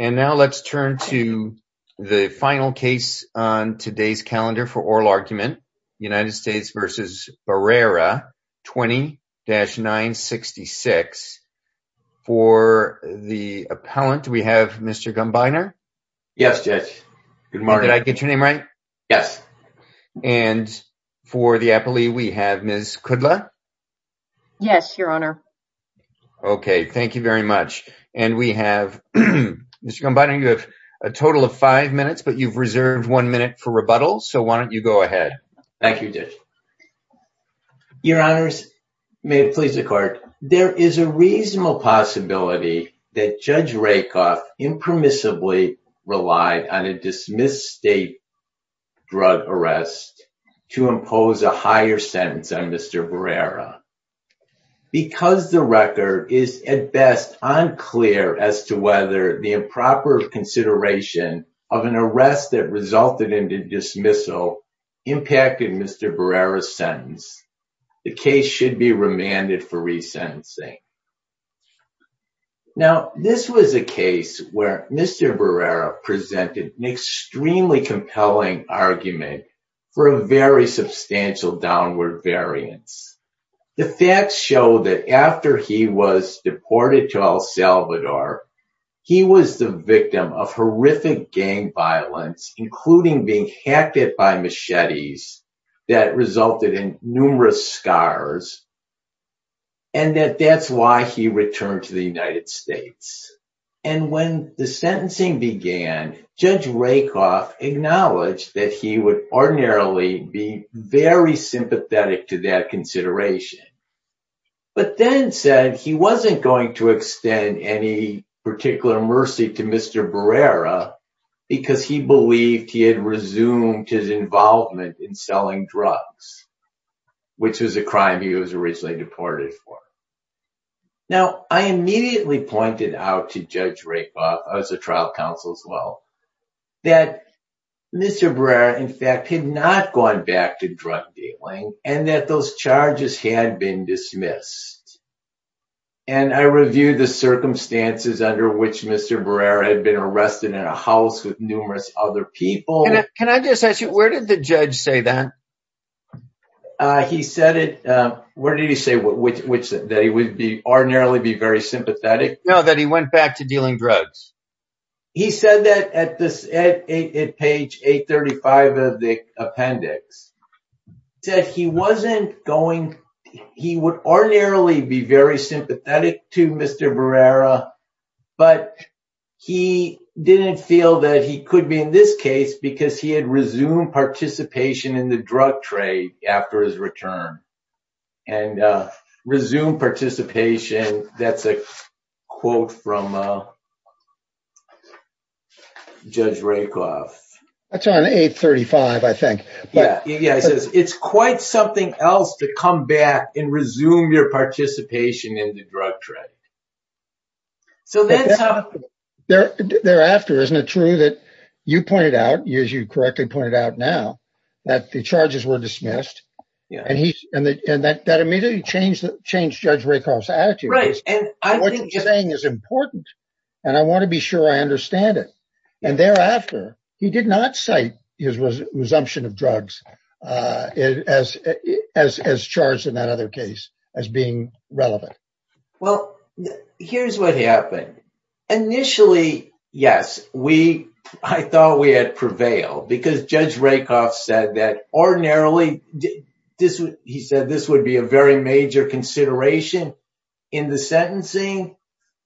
20-966. For the appellant, we have Mr. Gumbiner. Yes, Judge. Good morning. Did I get your name right? Yes. And for the appellee, we have Ms. Kudla. Yes, Your Honor. Okay, thank you very much. And we have Ms. Kudla. Mr. Gumbiner, you have a total of five minutes, but you've reserved one minute for rebuttal. So why don't you go ahead? Thank you, Judge. Your Honors, may it please the court. There is a reasonable possibility that Judge Rakoff impermissibly relied on a dismissed state drug arrest to impose a higher sentence on Mr. Barrera. Because the record is at best unclear as to whether the improper consideration of an arrest that resulted in the dismissal impacted Mr. Barrera's sentence, the case should be remanded for resentencing. Now, this was a case where Mr. Barrera presented an extremely compelling argument for a very substantial downward variance. The facts show that after he was deported to El Salvador, he was the victim of horrific gang violence, including being hacked by machetes that resulted in numerous scars. And that that's why he returned to the United States. And when the sentencing began, Judge Rakoff acknowledged that he would ordinarily be very sympathetic to that consideration. But then said he wasn't going to extend any particular mercy to Mr. Barrera because he believed he had resumed his involvement in selling drugs, which was a crime he was originally deported for. Now, I immediately pointed out to Judge Rakoff, as a trial counsel as well, that Mr. Barrera, in fact, had not gone back to drug dealing and that those charges had been dismissed. And I reviewed the circumstances under which Mr. Barrera had been arrested in a house with numerous other people. Can I just ask you, where did the judge say that? He said it. Where did he say that he would be ordinarily be very sympathetic? No, that he went back to dealing drugs. He said that at this at page 835 of the appendix that he wasn't going. He would ordinarily be very sympathetic to Mr. Barrera, but he didn't feel that he could be in this case because he had resumed participation in the drug trade after his return. And resume participation. That's a quote from Judge Rakoff. That's on 835, I think. Yeah. Yeah. It's quite something else to come back and resume your participation in the drug trade. So thereafter, isn't it true that you pointed out, as you correctly pointed out now, that the charges were dismissed and that immediately changed Judge Rakoff's attitude. What you're saying is important and I want to be sure I understand it. And thereafter, he did not cite his resumption of drugs as charged in that other case as being relevant. Well, here's what happened. Initially, yes, we I thought we had prevailed because Judge Rakoff said that ordinarily he said this would be a very major consideration in the sentencing.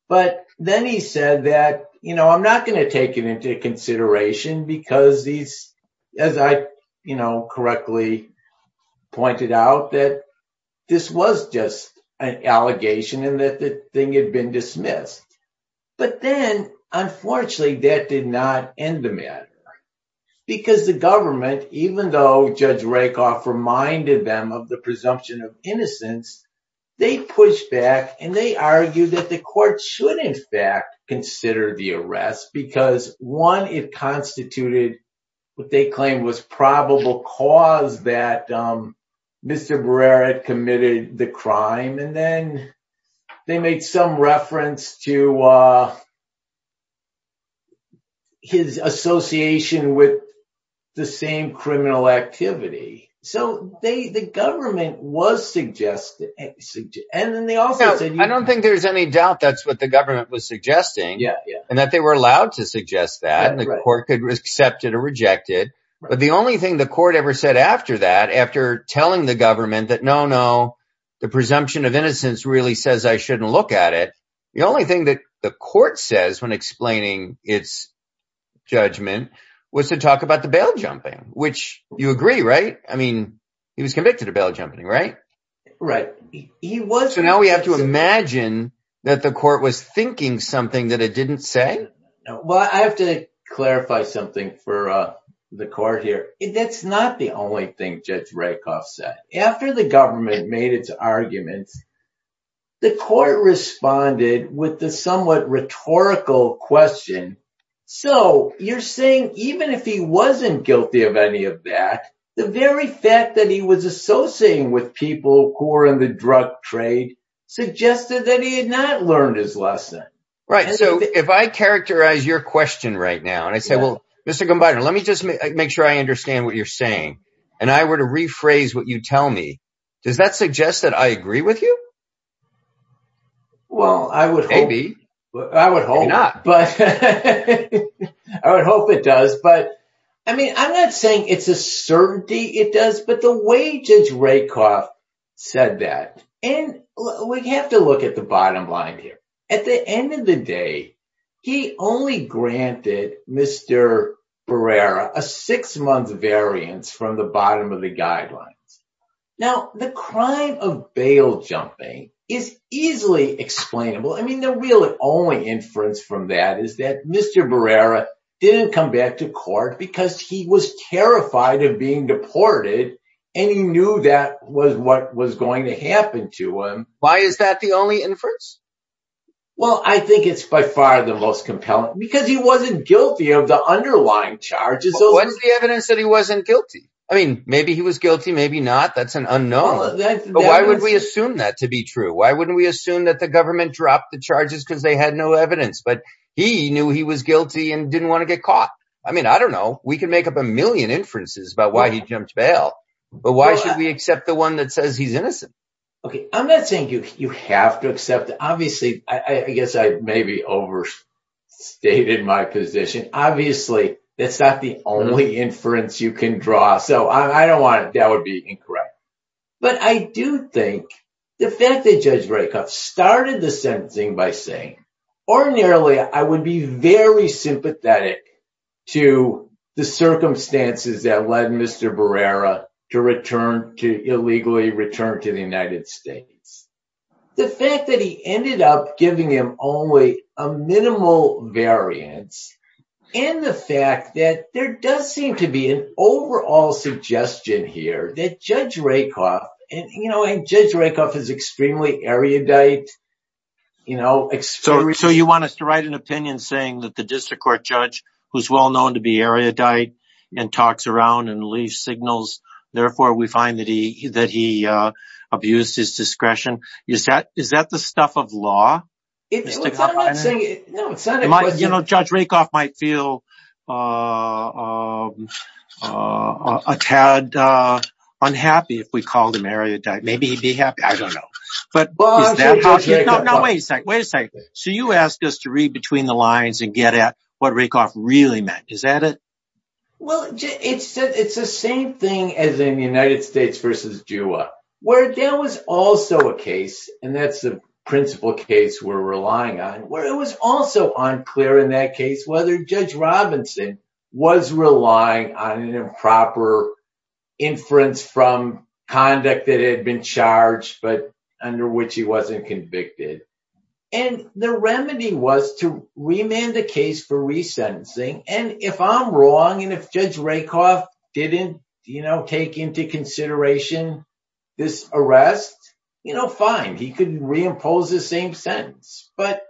But then he said that, you know, I'm not going to take it into consideration because these, as I correctly pointed out, that this was just an allegation and that the thing had been dismissed. But then, unfortunately, that did not end the matter because the government, even though Judge Rakoff reminded them of the presumption of innocence, they pushed back and they argued that the court should in fact consider the arrest because, one, it constituted what they claimed was probable cause that Mr. Barrera had committed the crime. And then they made some reference to. His association with the same criminal activity, so they the government was suggested and then they also said, I don't think there's any doubt that's what the government was suggesting and that they were allowed to suggest that the court could accept it or reject it. But the only thing the court ever said after that, after telling the government that, no, no, the presumption of innocence really says I shouldn't look at it. The only thing that the court says when explaining its judgment was to talk about the bail jumping, which you agree, right? I mean, he was convicted of bail jumping, right? Right. He was. So now we have to imagine that the court was thinking something that it didn't say. Well, I have to clarify something for the court here. That's not the only thing Judge Rakoff said. After the government made its arguments, the court responded with the somewhat rhetorical question. So you're saying even if he wasn't guilty of any of that, the very fact that he was associating with people who were in the drug trade suggested that he had not learned his lesson. Right. So if I characterize your question right now and I say, well, Mr. Gumbiner, let me just make sure I understand what you're saying. And I were to rephrase what you tell me. Does that suggest that I agree with you? Well, I would be. I would hope not. But I would hope it does. But I mean, I'm not saying it's a certainty. It does. But the way Judge Rakoff said that and we have to look at the bottom line here. At the end of the day, he only granted Mr. Barrera a six month variance from the bottom of the guidelines. Now, the crime of bail jumping is easily explainable. I mean, the real only inference from that is that Mr. Barrera didn't come back to court because he was terrified of being deported and he knew that was what was going to happen to him. Why is that the only inference? Well, I think it's by far the most compelling because he wasn't guilty of the underlying charges. What is the evidence that he wasn't guilty? I mean, maybe he was guilty, maybe not. That's an unknown. But why would we assume that to be true? Why wouldn't we assume that the government dropped the charges because they had no evidence, but he knew he was guilty and didn't want to get caught? I mean, I don't know. We can make up a million inferences about why he jumped bail. But why should we accept the one that says he's innocent? OK, I'm not saying you have to accept. Obviously, I guess I maybe overstated my position. Obviously, that's not the only inference you can draw. So I don't want that would be incorrect. But I do think the fact that Judge Rakoff started the sentencing by saying ordinarily I would be very sympathetic to the circumstances that led Mr. Barrera to return to illegally return to the United States. The fact that he ended up giving him only a minimal variance in the fact that there does seem to be an overall suggestion here that Judge Rakoff and Judge Rakoff is extremely erudite. So you want us to write an opinion saying that the district court judge, who's well-known to be erudite and talks around and leaves signals. Therefore, we find that he that he abused his discretion. Is that is that the stuff of law? You know, Judge Rakoff might feel a tad unhappy if we called him erudite. Maybe he'd be happy. I don't know. But wait a second. Wait a second. So you asked us to read between the lines and get at what Rakoff really meant. Is that it? Well, it's it's the same thing as in the United States versus Jua, where there was also a case. And that's the principal case we're relying on. Well, it was also unclear in that case whether Judge Robinson was relying on an improper inference from conduct that had been charged, but under which he wasn't convicted. And the remedy was to remand the case for resentencing. And if I'm wrong and if Judge Rakoff didn't, you know, take into consideration this arrest, you know, fine, he could reimpose the same sentence. But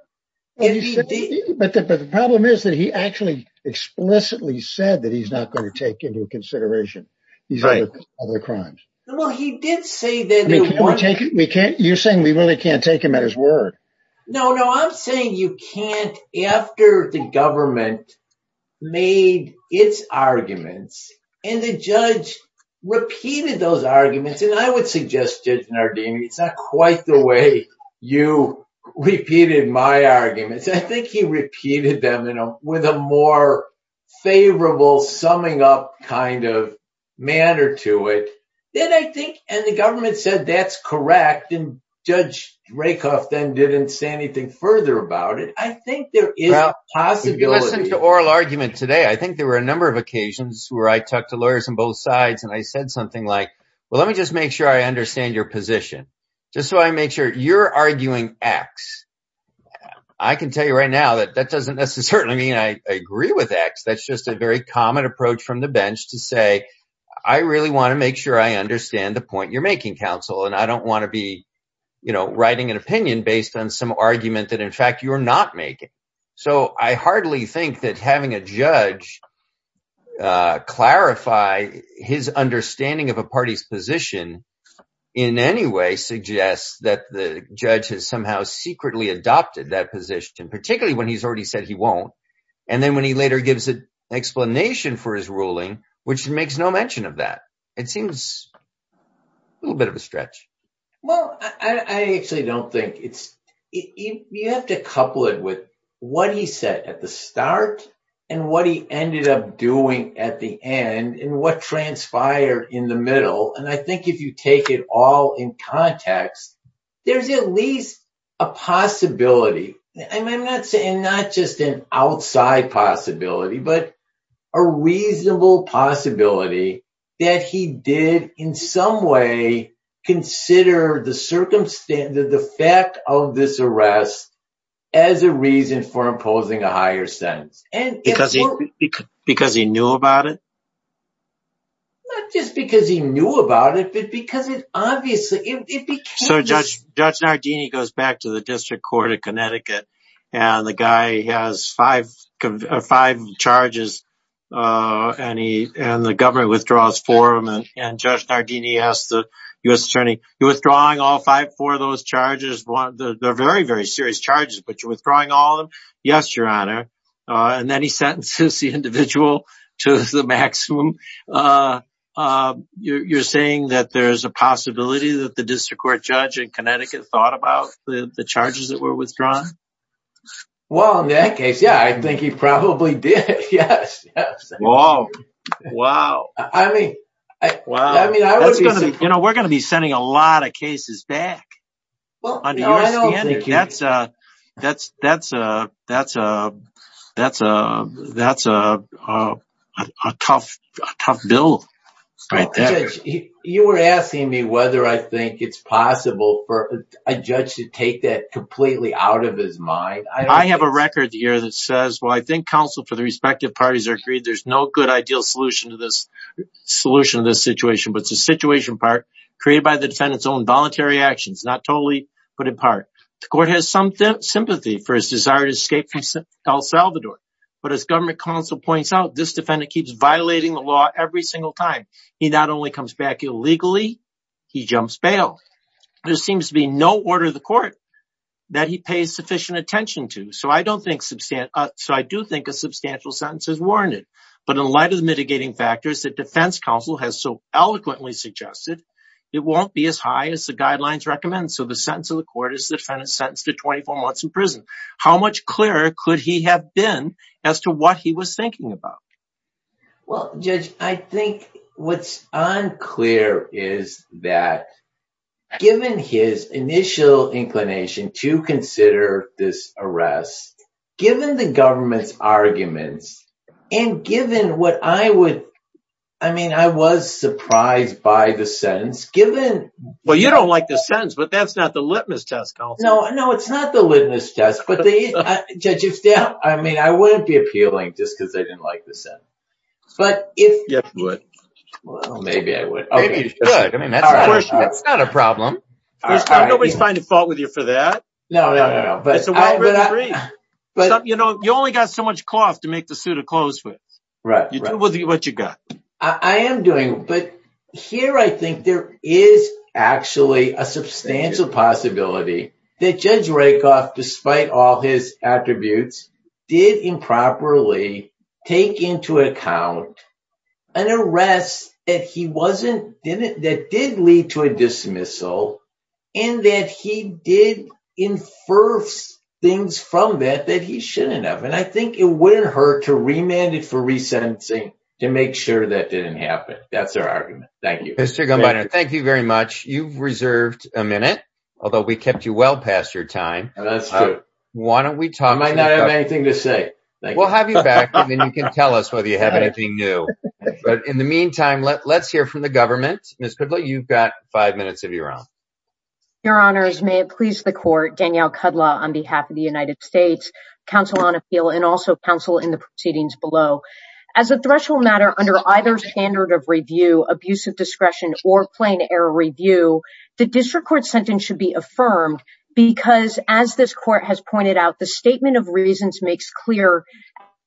the problem is that he actually explicitly said that he's not going to take into consideration these other crimes. Well, he did say that we can't. You're saying we really can't take him at his word. No, no. I'm saying you can't. After the government made its arguments and the judge repeated those arguments. And I would suggest, Judge Nardini, it's not quite the way you repeated my arguments. I think he repeated them, you know, with a more favorable summing up kind of manner to it. Then I think and the government said that's correct. And Judge Rakoff then didn't say anything further about it. I think there is a possibility to oral argument today. I think there were a number of occasions where I talked to lawyers on both sides and I said something like, well, let me just make sure I understand your position just so I make sure you're arguing X. I can tell you right now that that doesn't necessarily mean I agree with X. That's just a very common approach from the bench to say, I really want to make sure I understand the point you're making, counsel. And I don't want to be, you know, writing an opinion based on some argument that, in fact, you are not making. So I hardly think that having a judge clarify his understanding of a party's position in any way suggests that the judge has somehow secretly adopted that position, particularly when he's already said he won't. And then when he later gives an explanation for his ruling, which makes no mention of that, it seems a little bit of a stretch. Well, I actually don't think it's you have to couple it with what he said at the start and what he ended up doing at the end and what transpired in the middle. And I think if you take it all in context, there's at least a possibility. I'm not saying not just an outside possibility, but a reasonable possibility that he did in some way consider the fact of this arrest as a reason for imposing a higher sentence. Because he knew about it? Not just because he knew about it, but because it obviously, it became... So Judge Nardini goes back to the District Court of Connecticut, and the guy has five charges, and the government withdraws four of them. And Judge Nardini asks the U.S. attorney, you're withdrawing all five, four of those charges? They're very, very serious charges, but you're withdrawing all of them? Yes, Your Honor. And then he sentences the individual to the maximum. You're saying that there's a possibility that the district court judge in Connecticut thought about the charges that were withdrawn? Well, in that case, yeah, I think he probably did. Yes, yes. Wow. Wow. I mean, I would be surprised. You know, we're going to be sending a lot of cases back. That's a tough bill. Judge, you were asking me whether I think it's possible for a judge to take that completely out of his mind. I have a record here that says, well, I think counsel for the respective parties are agreed there's no good ideal solution to this situation. But it's a situation part created by the defendant's own voluntary actions, not totally put in part. The court has some sympathy for his desire to escape from El Salvador. But as government counsel points out, this defendant keeps violating the law every single time. He not only comes back illegally, he jumps bail. There seems to be no order of the court that he pays sufficient attention to. So I do think a substantial sentence is warranted. But in light of the mitigating factors that defense counsel has so eloquently suggested, it won't be as high as the guidelines recommend. So the sentence of the court is the defendant sentenced to 24 months in prison. How much clearer could he have been as to what he was thinking about? Well, Judge, I think what's unclear is that given his initial inclination to consider this arrest, given the government's arguments and given what I would I mean, I was surprised by the sentence given. Well, you don't like the sentence, but that's not the litmus test. No, no, it's not the litmus test, but I mean, I wouldn't be appealing just because I didn't like the sentence. But if you would, maybe I would. I mean, that's not a problem. Nobody's finding fault with you for that. No, no, no, no. But, you know, you only got so much cloth to make the suit of clothes with. Right. What you got. I am doing. But here I think there is actually a substantial possibility that Judge Rakoff, despite all his attributes, did improperly take into account an arrest that he wasn't didn't that did lead to a dismissal and that he did infer things from that that he shouldn't have. And I think it wouldn't hurt to remanded for resentencing to make sure that didn't happen. That's our argument. Thank you, Mr. Gumbiner. Thank you very much. You've reserved a minute, although we kept you well past your time. That's true. Why don't we talk? I might not have anything to say. Thank you. We'll have you back and then you can tell us whether you have anything new. But in the meantime, let's hear from the government. Ms. You've got five minutes of your own. Your honors, may it please the court, Danielle Kudlow on behalf of the United States Council on Appeal and also counsel in the proceedings below as a threshold matter under either standard of review, abusive discretion or plain error review. The district court sentence should be affirmed because, as this court has pointed out, the statement of reasons makes clear.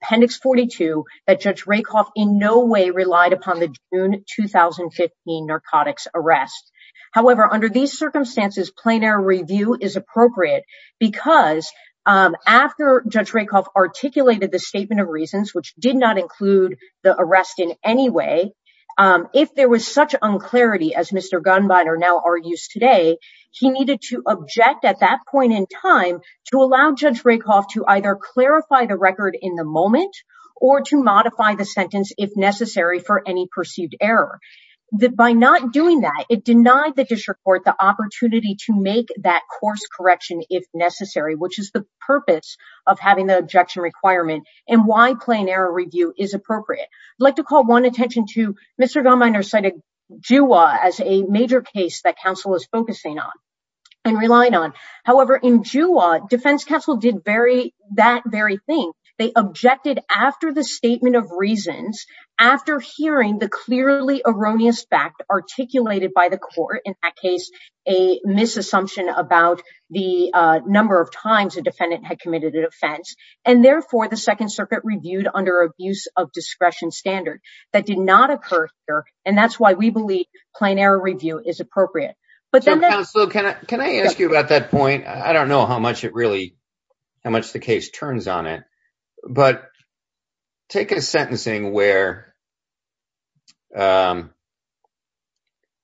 Appendix 42 that Judge Rakoff in no way relied upon the June 2015 narcotics arrest. However, under these circumstances, plain error review is appropriate because after Judge Rakoff articulated the statement of reasons, which did not include the arrest in any way. If there was such unclarity, as Mr. Gunnbinder now argues today, he needed to object at that point in time to allow Judge Rakoff to either clarify the record in the moment or to modify the sentence if necessary for any perceived error. By not doing that, it denied the district court the opportunity to make that course correction if necessary, which is the purpose of having the objection requirement and why plain error review is appropriate. I'd like to call one attention to Mr. Gunnbinder cited Juwa as a major case that counsel is focusing on and relying on. However, in Juwa, defense counsel did that very thing. They objected after the statement of reasons, after hearing the clearly erroneous fact articulated by the court, in that case, a misassumption about the number of times a defendant had committed an offense. And therefore, the Second Circuit reviewed under abuse of discretion standard. That did not occur here. And that's why we believe plain error review is appropriate. Can I ask you about that point? I don't know how much it really how much the case turns on it. But take a sentencing where. Oh,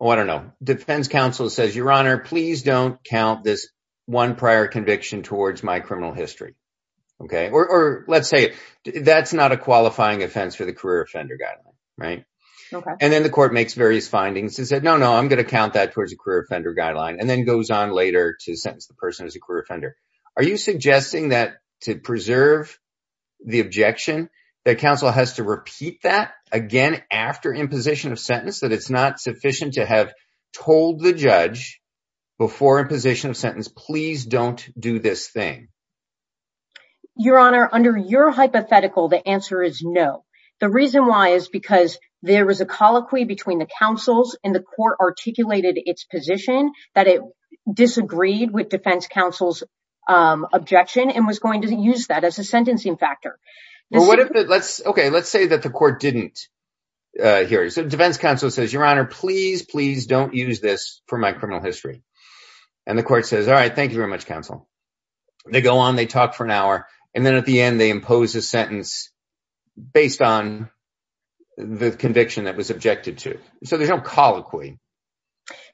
I don't know. Defense counsel says, Your Honor, please don't count this one prior conviction towards my criminal history. OK, or let's say that's not a qualifying offense for the career offender guy. Right. And then the court makes various findings and said, no, no, I'm going to count that towards a career offender guideline and then goes on later to sentence the person as a career offender. Are you suggesting that to preserve the objection that counsel has to repeat that again after imposition of sentence, that it's not sufficient to have told the judge before imposition of sentence, please don't do this thing. Your Honor, under your hypothetical, the answer is no. The reason why is because there was a colloquy between the counsels in the court articulated its position that it disagreed with defense counsel's objection and was going to use that as a sentencing factor. Well, what if let's OK, let's say that the court didn't hear. So defense counsel says, Your Honor, please, please don't use this for my criminal history. And the court says, all right, thank you very much, counsel. They go on, they talk for an hour, and then at the end they impose a sentence based on the conviction that was objected to. So there's no colloquy.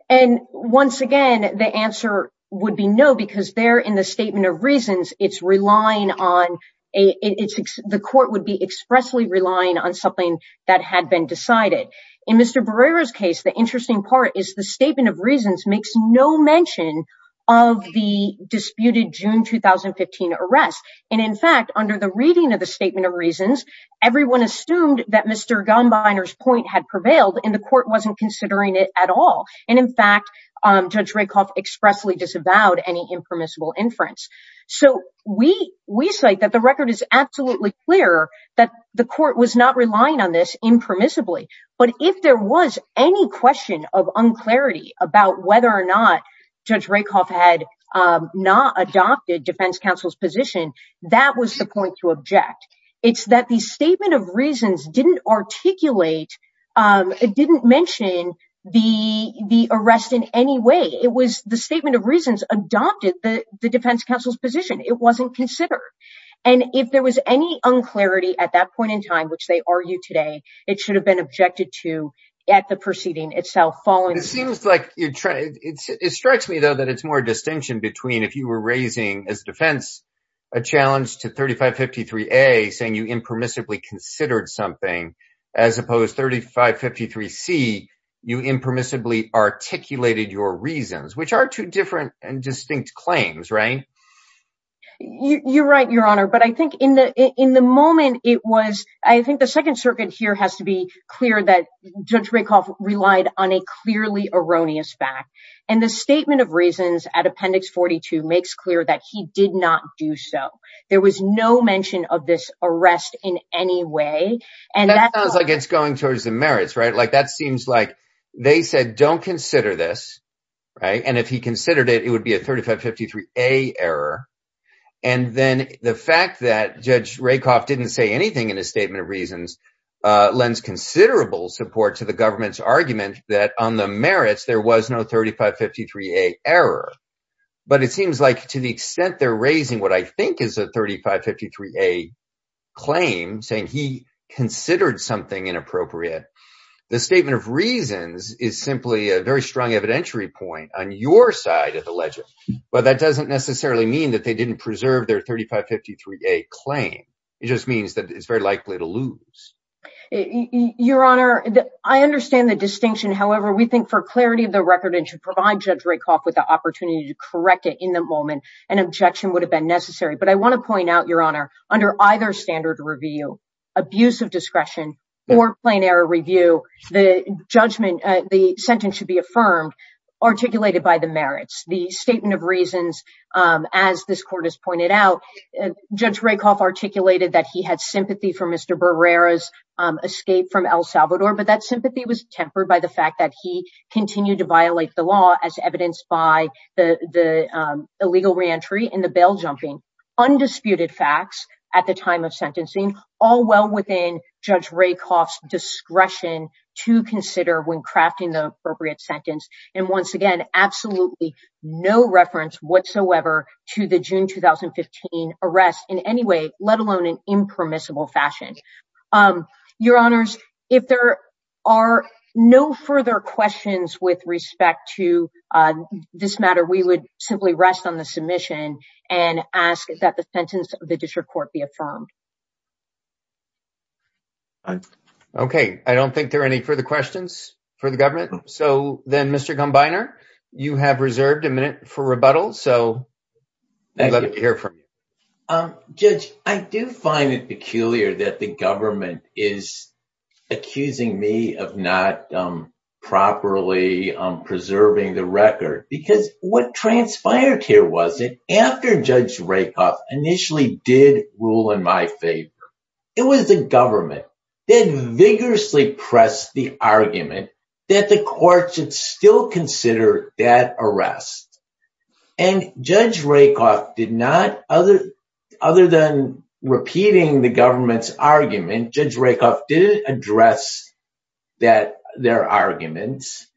And once again, the answer would be no, because there in the statement of reasons, it's relying on a it's the court would be expressly relying on something that had been decided. In Mr. Barrera's case, the interesting part is the statement of reasons makes no mention of the disputed June 2015 arrest. And in fact, under the reading of the statement of reasons, everyone assumed that Mr. Gumbiner's point had prevailed and the court wasn't considering it at all. And in fact, Judge Rakoff expressly disavowed any impermissible inference. So we we say that the record is absolutely clear that the court was not relying on this impermissibly. But if there was any question of unclarity about whether or not Judge Rakoff had not adopted defense counsel's position, that was the point to object. It's that the statement of reasons didn't articulate. It didn't mention the the arrest in any way. It was the statement of reasons adopted the defense counsel's position. It wasn't considered. And if there was any unclarity at that point in time, which they argue today. It should have been objected to at the proceeding itself. It seems like it strikes me, though, that it's more distinction between if you were raising as defense a challenge to 3553-A saying you impermissibly considered something as opposed 3553-C, you impermissibly articulated your reasons, which are two different and distinct claims, right? You're right, Your Honor. But I think in the in the moment it was, I think the Second Circuit here has to be clear that Judge Rakoff relied on a clearly erroneous fact. And the statement of reasons at Appendix 42 makes clear that he did not do so. There was no mention of this arrest in any way. And that sounds like it's going towards the merits, right? Like that seems like they said, don't consider this. Right. And if he considered it, it would be a 3553-A error. And then the fact that Judge Rakoff didn't say anything in his statement of reasons lends considerable support to the government's argument that on the merits, there was no 3553-A error. But it seems like to the extent they're raising what I think is a 3553-A claim saying he considered something inappropriate. The statement of reasons is simply a very strong evidentiary point on your side of the legend. But that doesn't necessarily mean that they didn't preserve their 3553-A claim. It just means that it's very likely to lose. Your Honor, I understand the distinction. However, we think for clarity of the record and to provide Judge Rakoff with the opportunity to correct it in the moment, an objection would have been necessary. But I want to point out, Your Honor, under either standard review, abuse of discretion or plain error review, the judgment, the sentence should be affirmed, articulated by the merits. The statement of reasons, as this court has pointed out, Judge Rakoff articulated that he had sympathy for Mr. Barrera's escape from El Salvador. But that sympathy was tempered by the fact that he continued to violate the law as evidenced by the illegal reentry and the bail jumping. Undisputed facts at the time of sentencing, all well within Judge Rakoff's discretion to consider when crafting the appropriate sentence. And once again, absolutely no reference whatsoever to the June 2015 arrest in any way, let alone in impermissible fashion. Your Honors, if there are no further questions with respect to this matter, we would simply rest on the submission and ask that the sentence of the district court be affirmed. OK, I don't think there are any further questions for the government. So then, Mr. Gumbiner, you have reserved a minute for rebuttal. Judge, I do find it peculiar that the government is accusing me of not properly preserving the record because what transpired here was that after Judge Rakoff initially did rule in my favor, it was the government that vigorously pressed the argument that the court should still consider that arrest. And Judge Rakoff did not, other than repeating the government's argument, Judge Rakoff didn't address their arguments.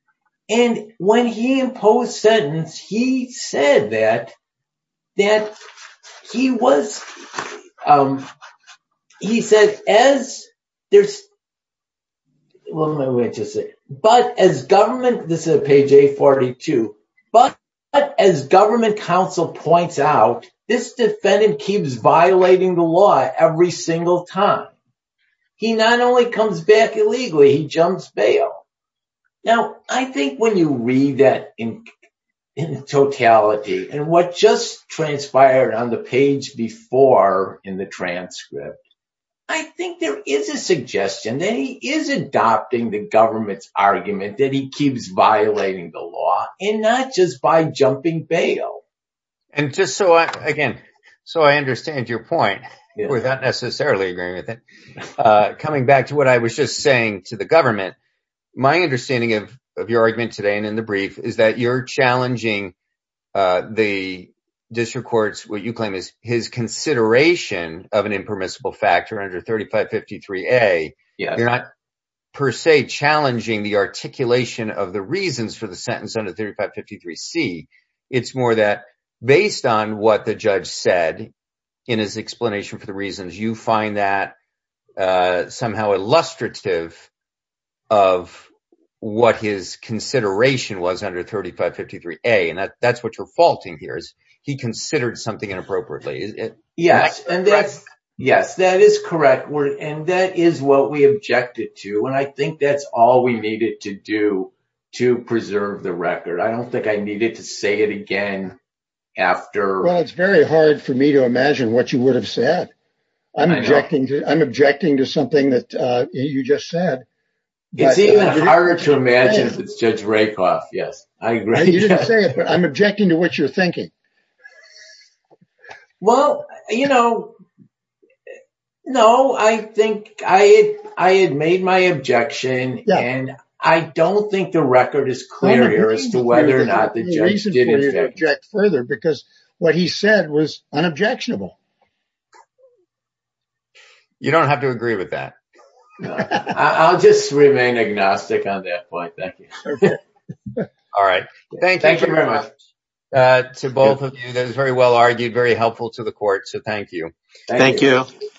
And when he imposed sentence, he said that, that he was, he said, as there's, but as government, this is page 842, but as government counsel points out, this defendant keeps violating the law every single time. He not only comes back illegally, he jumps bail. Now, I think when you read that in totality and what just transpired on the page before in the transcript, I think there is a suggestion that he is adopting the government's argument that he keeps violating the law and not just by jumping bail. And just so I, again, so I understand your point without necessarily agreeing with it, coming back to what I was just saying to the government, my understanding of your argument today and in the brief is that you're challenging the district courts, what you claim is his consideration of an impermissible factor under 3553A. You're not per se challenging the articulation of the reasons for the sentence under 3553C. It's more that based on what the judge said in his explanation for the reasons, you find that somehow illustrative of what his consideration was under 3553A. And that's what you're faulting here is he considered something inappropriately. Yes, that is correct. And that is what we objected to. And I think that's all we needed to do to preserve the record. I don't think I needed to say it again after. Well, it's very hard for me to imagine what you would have said. I'm objecting to something that you just said. It's even harder to imagine if it's Judge Rakoff. Yes, I agree. You didn't say it, but I'm objecting to what you're thinking. Well, you know, no, I think I had made my objection. And I don't think the record is clear as to whether or not the judge did object further because what he said was unobjectionable. You don't have to agree with that. I'll just remain agnostic on that point. Thank you. All right. Thank you very much to both of you. That is very well argued, very helpful to the court. So thank you. Thank you.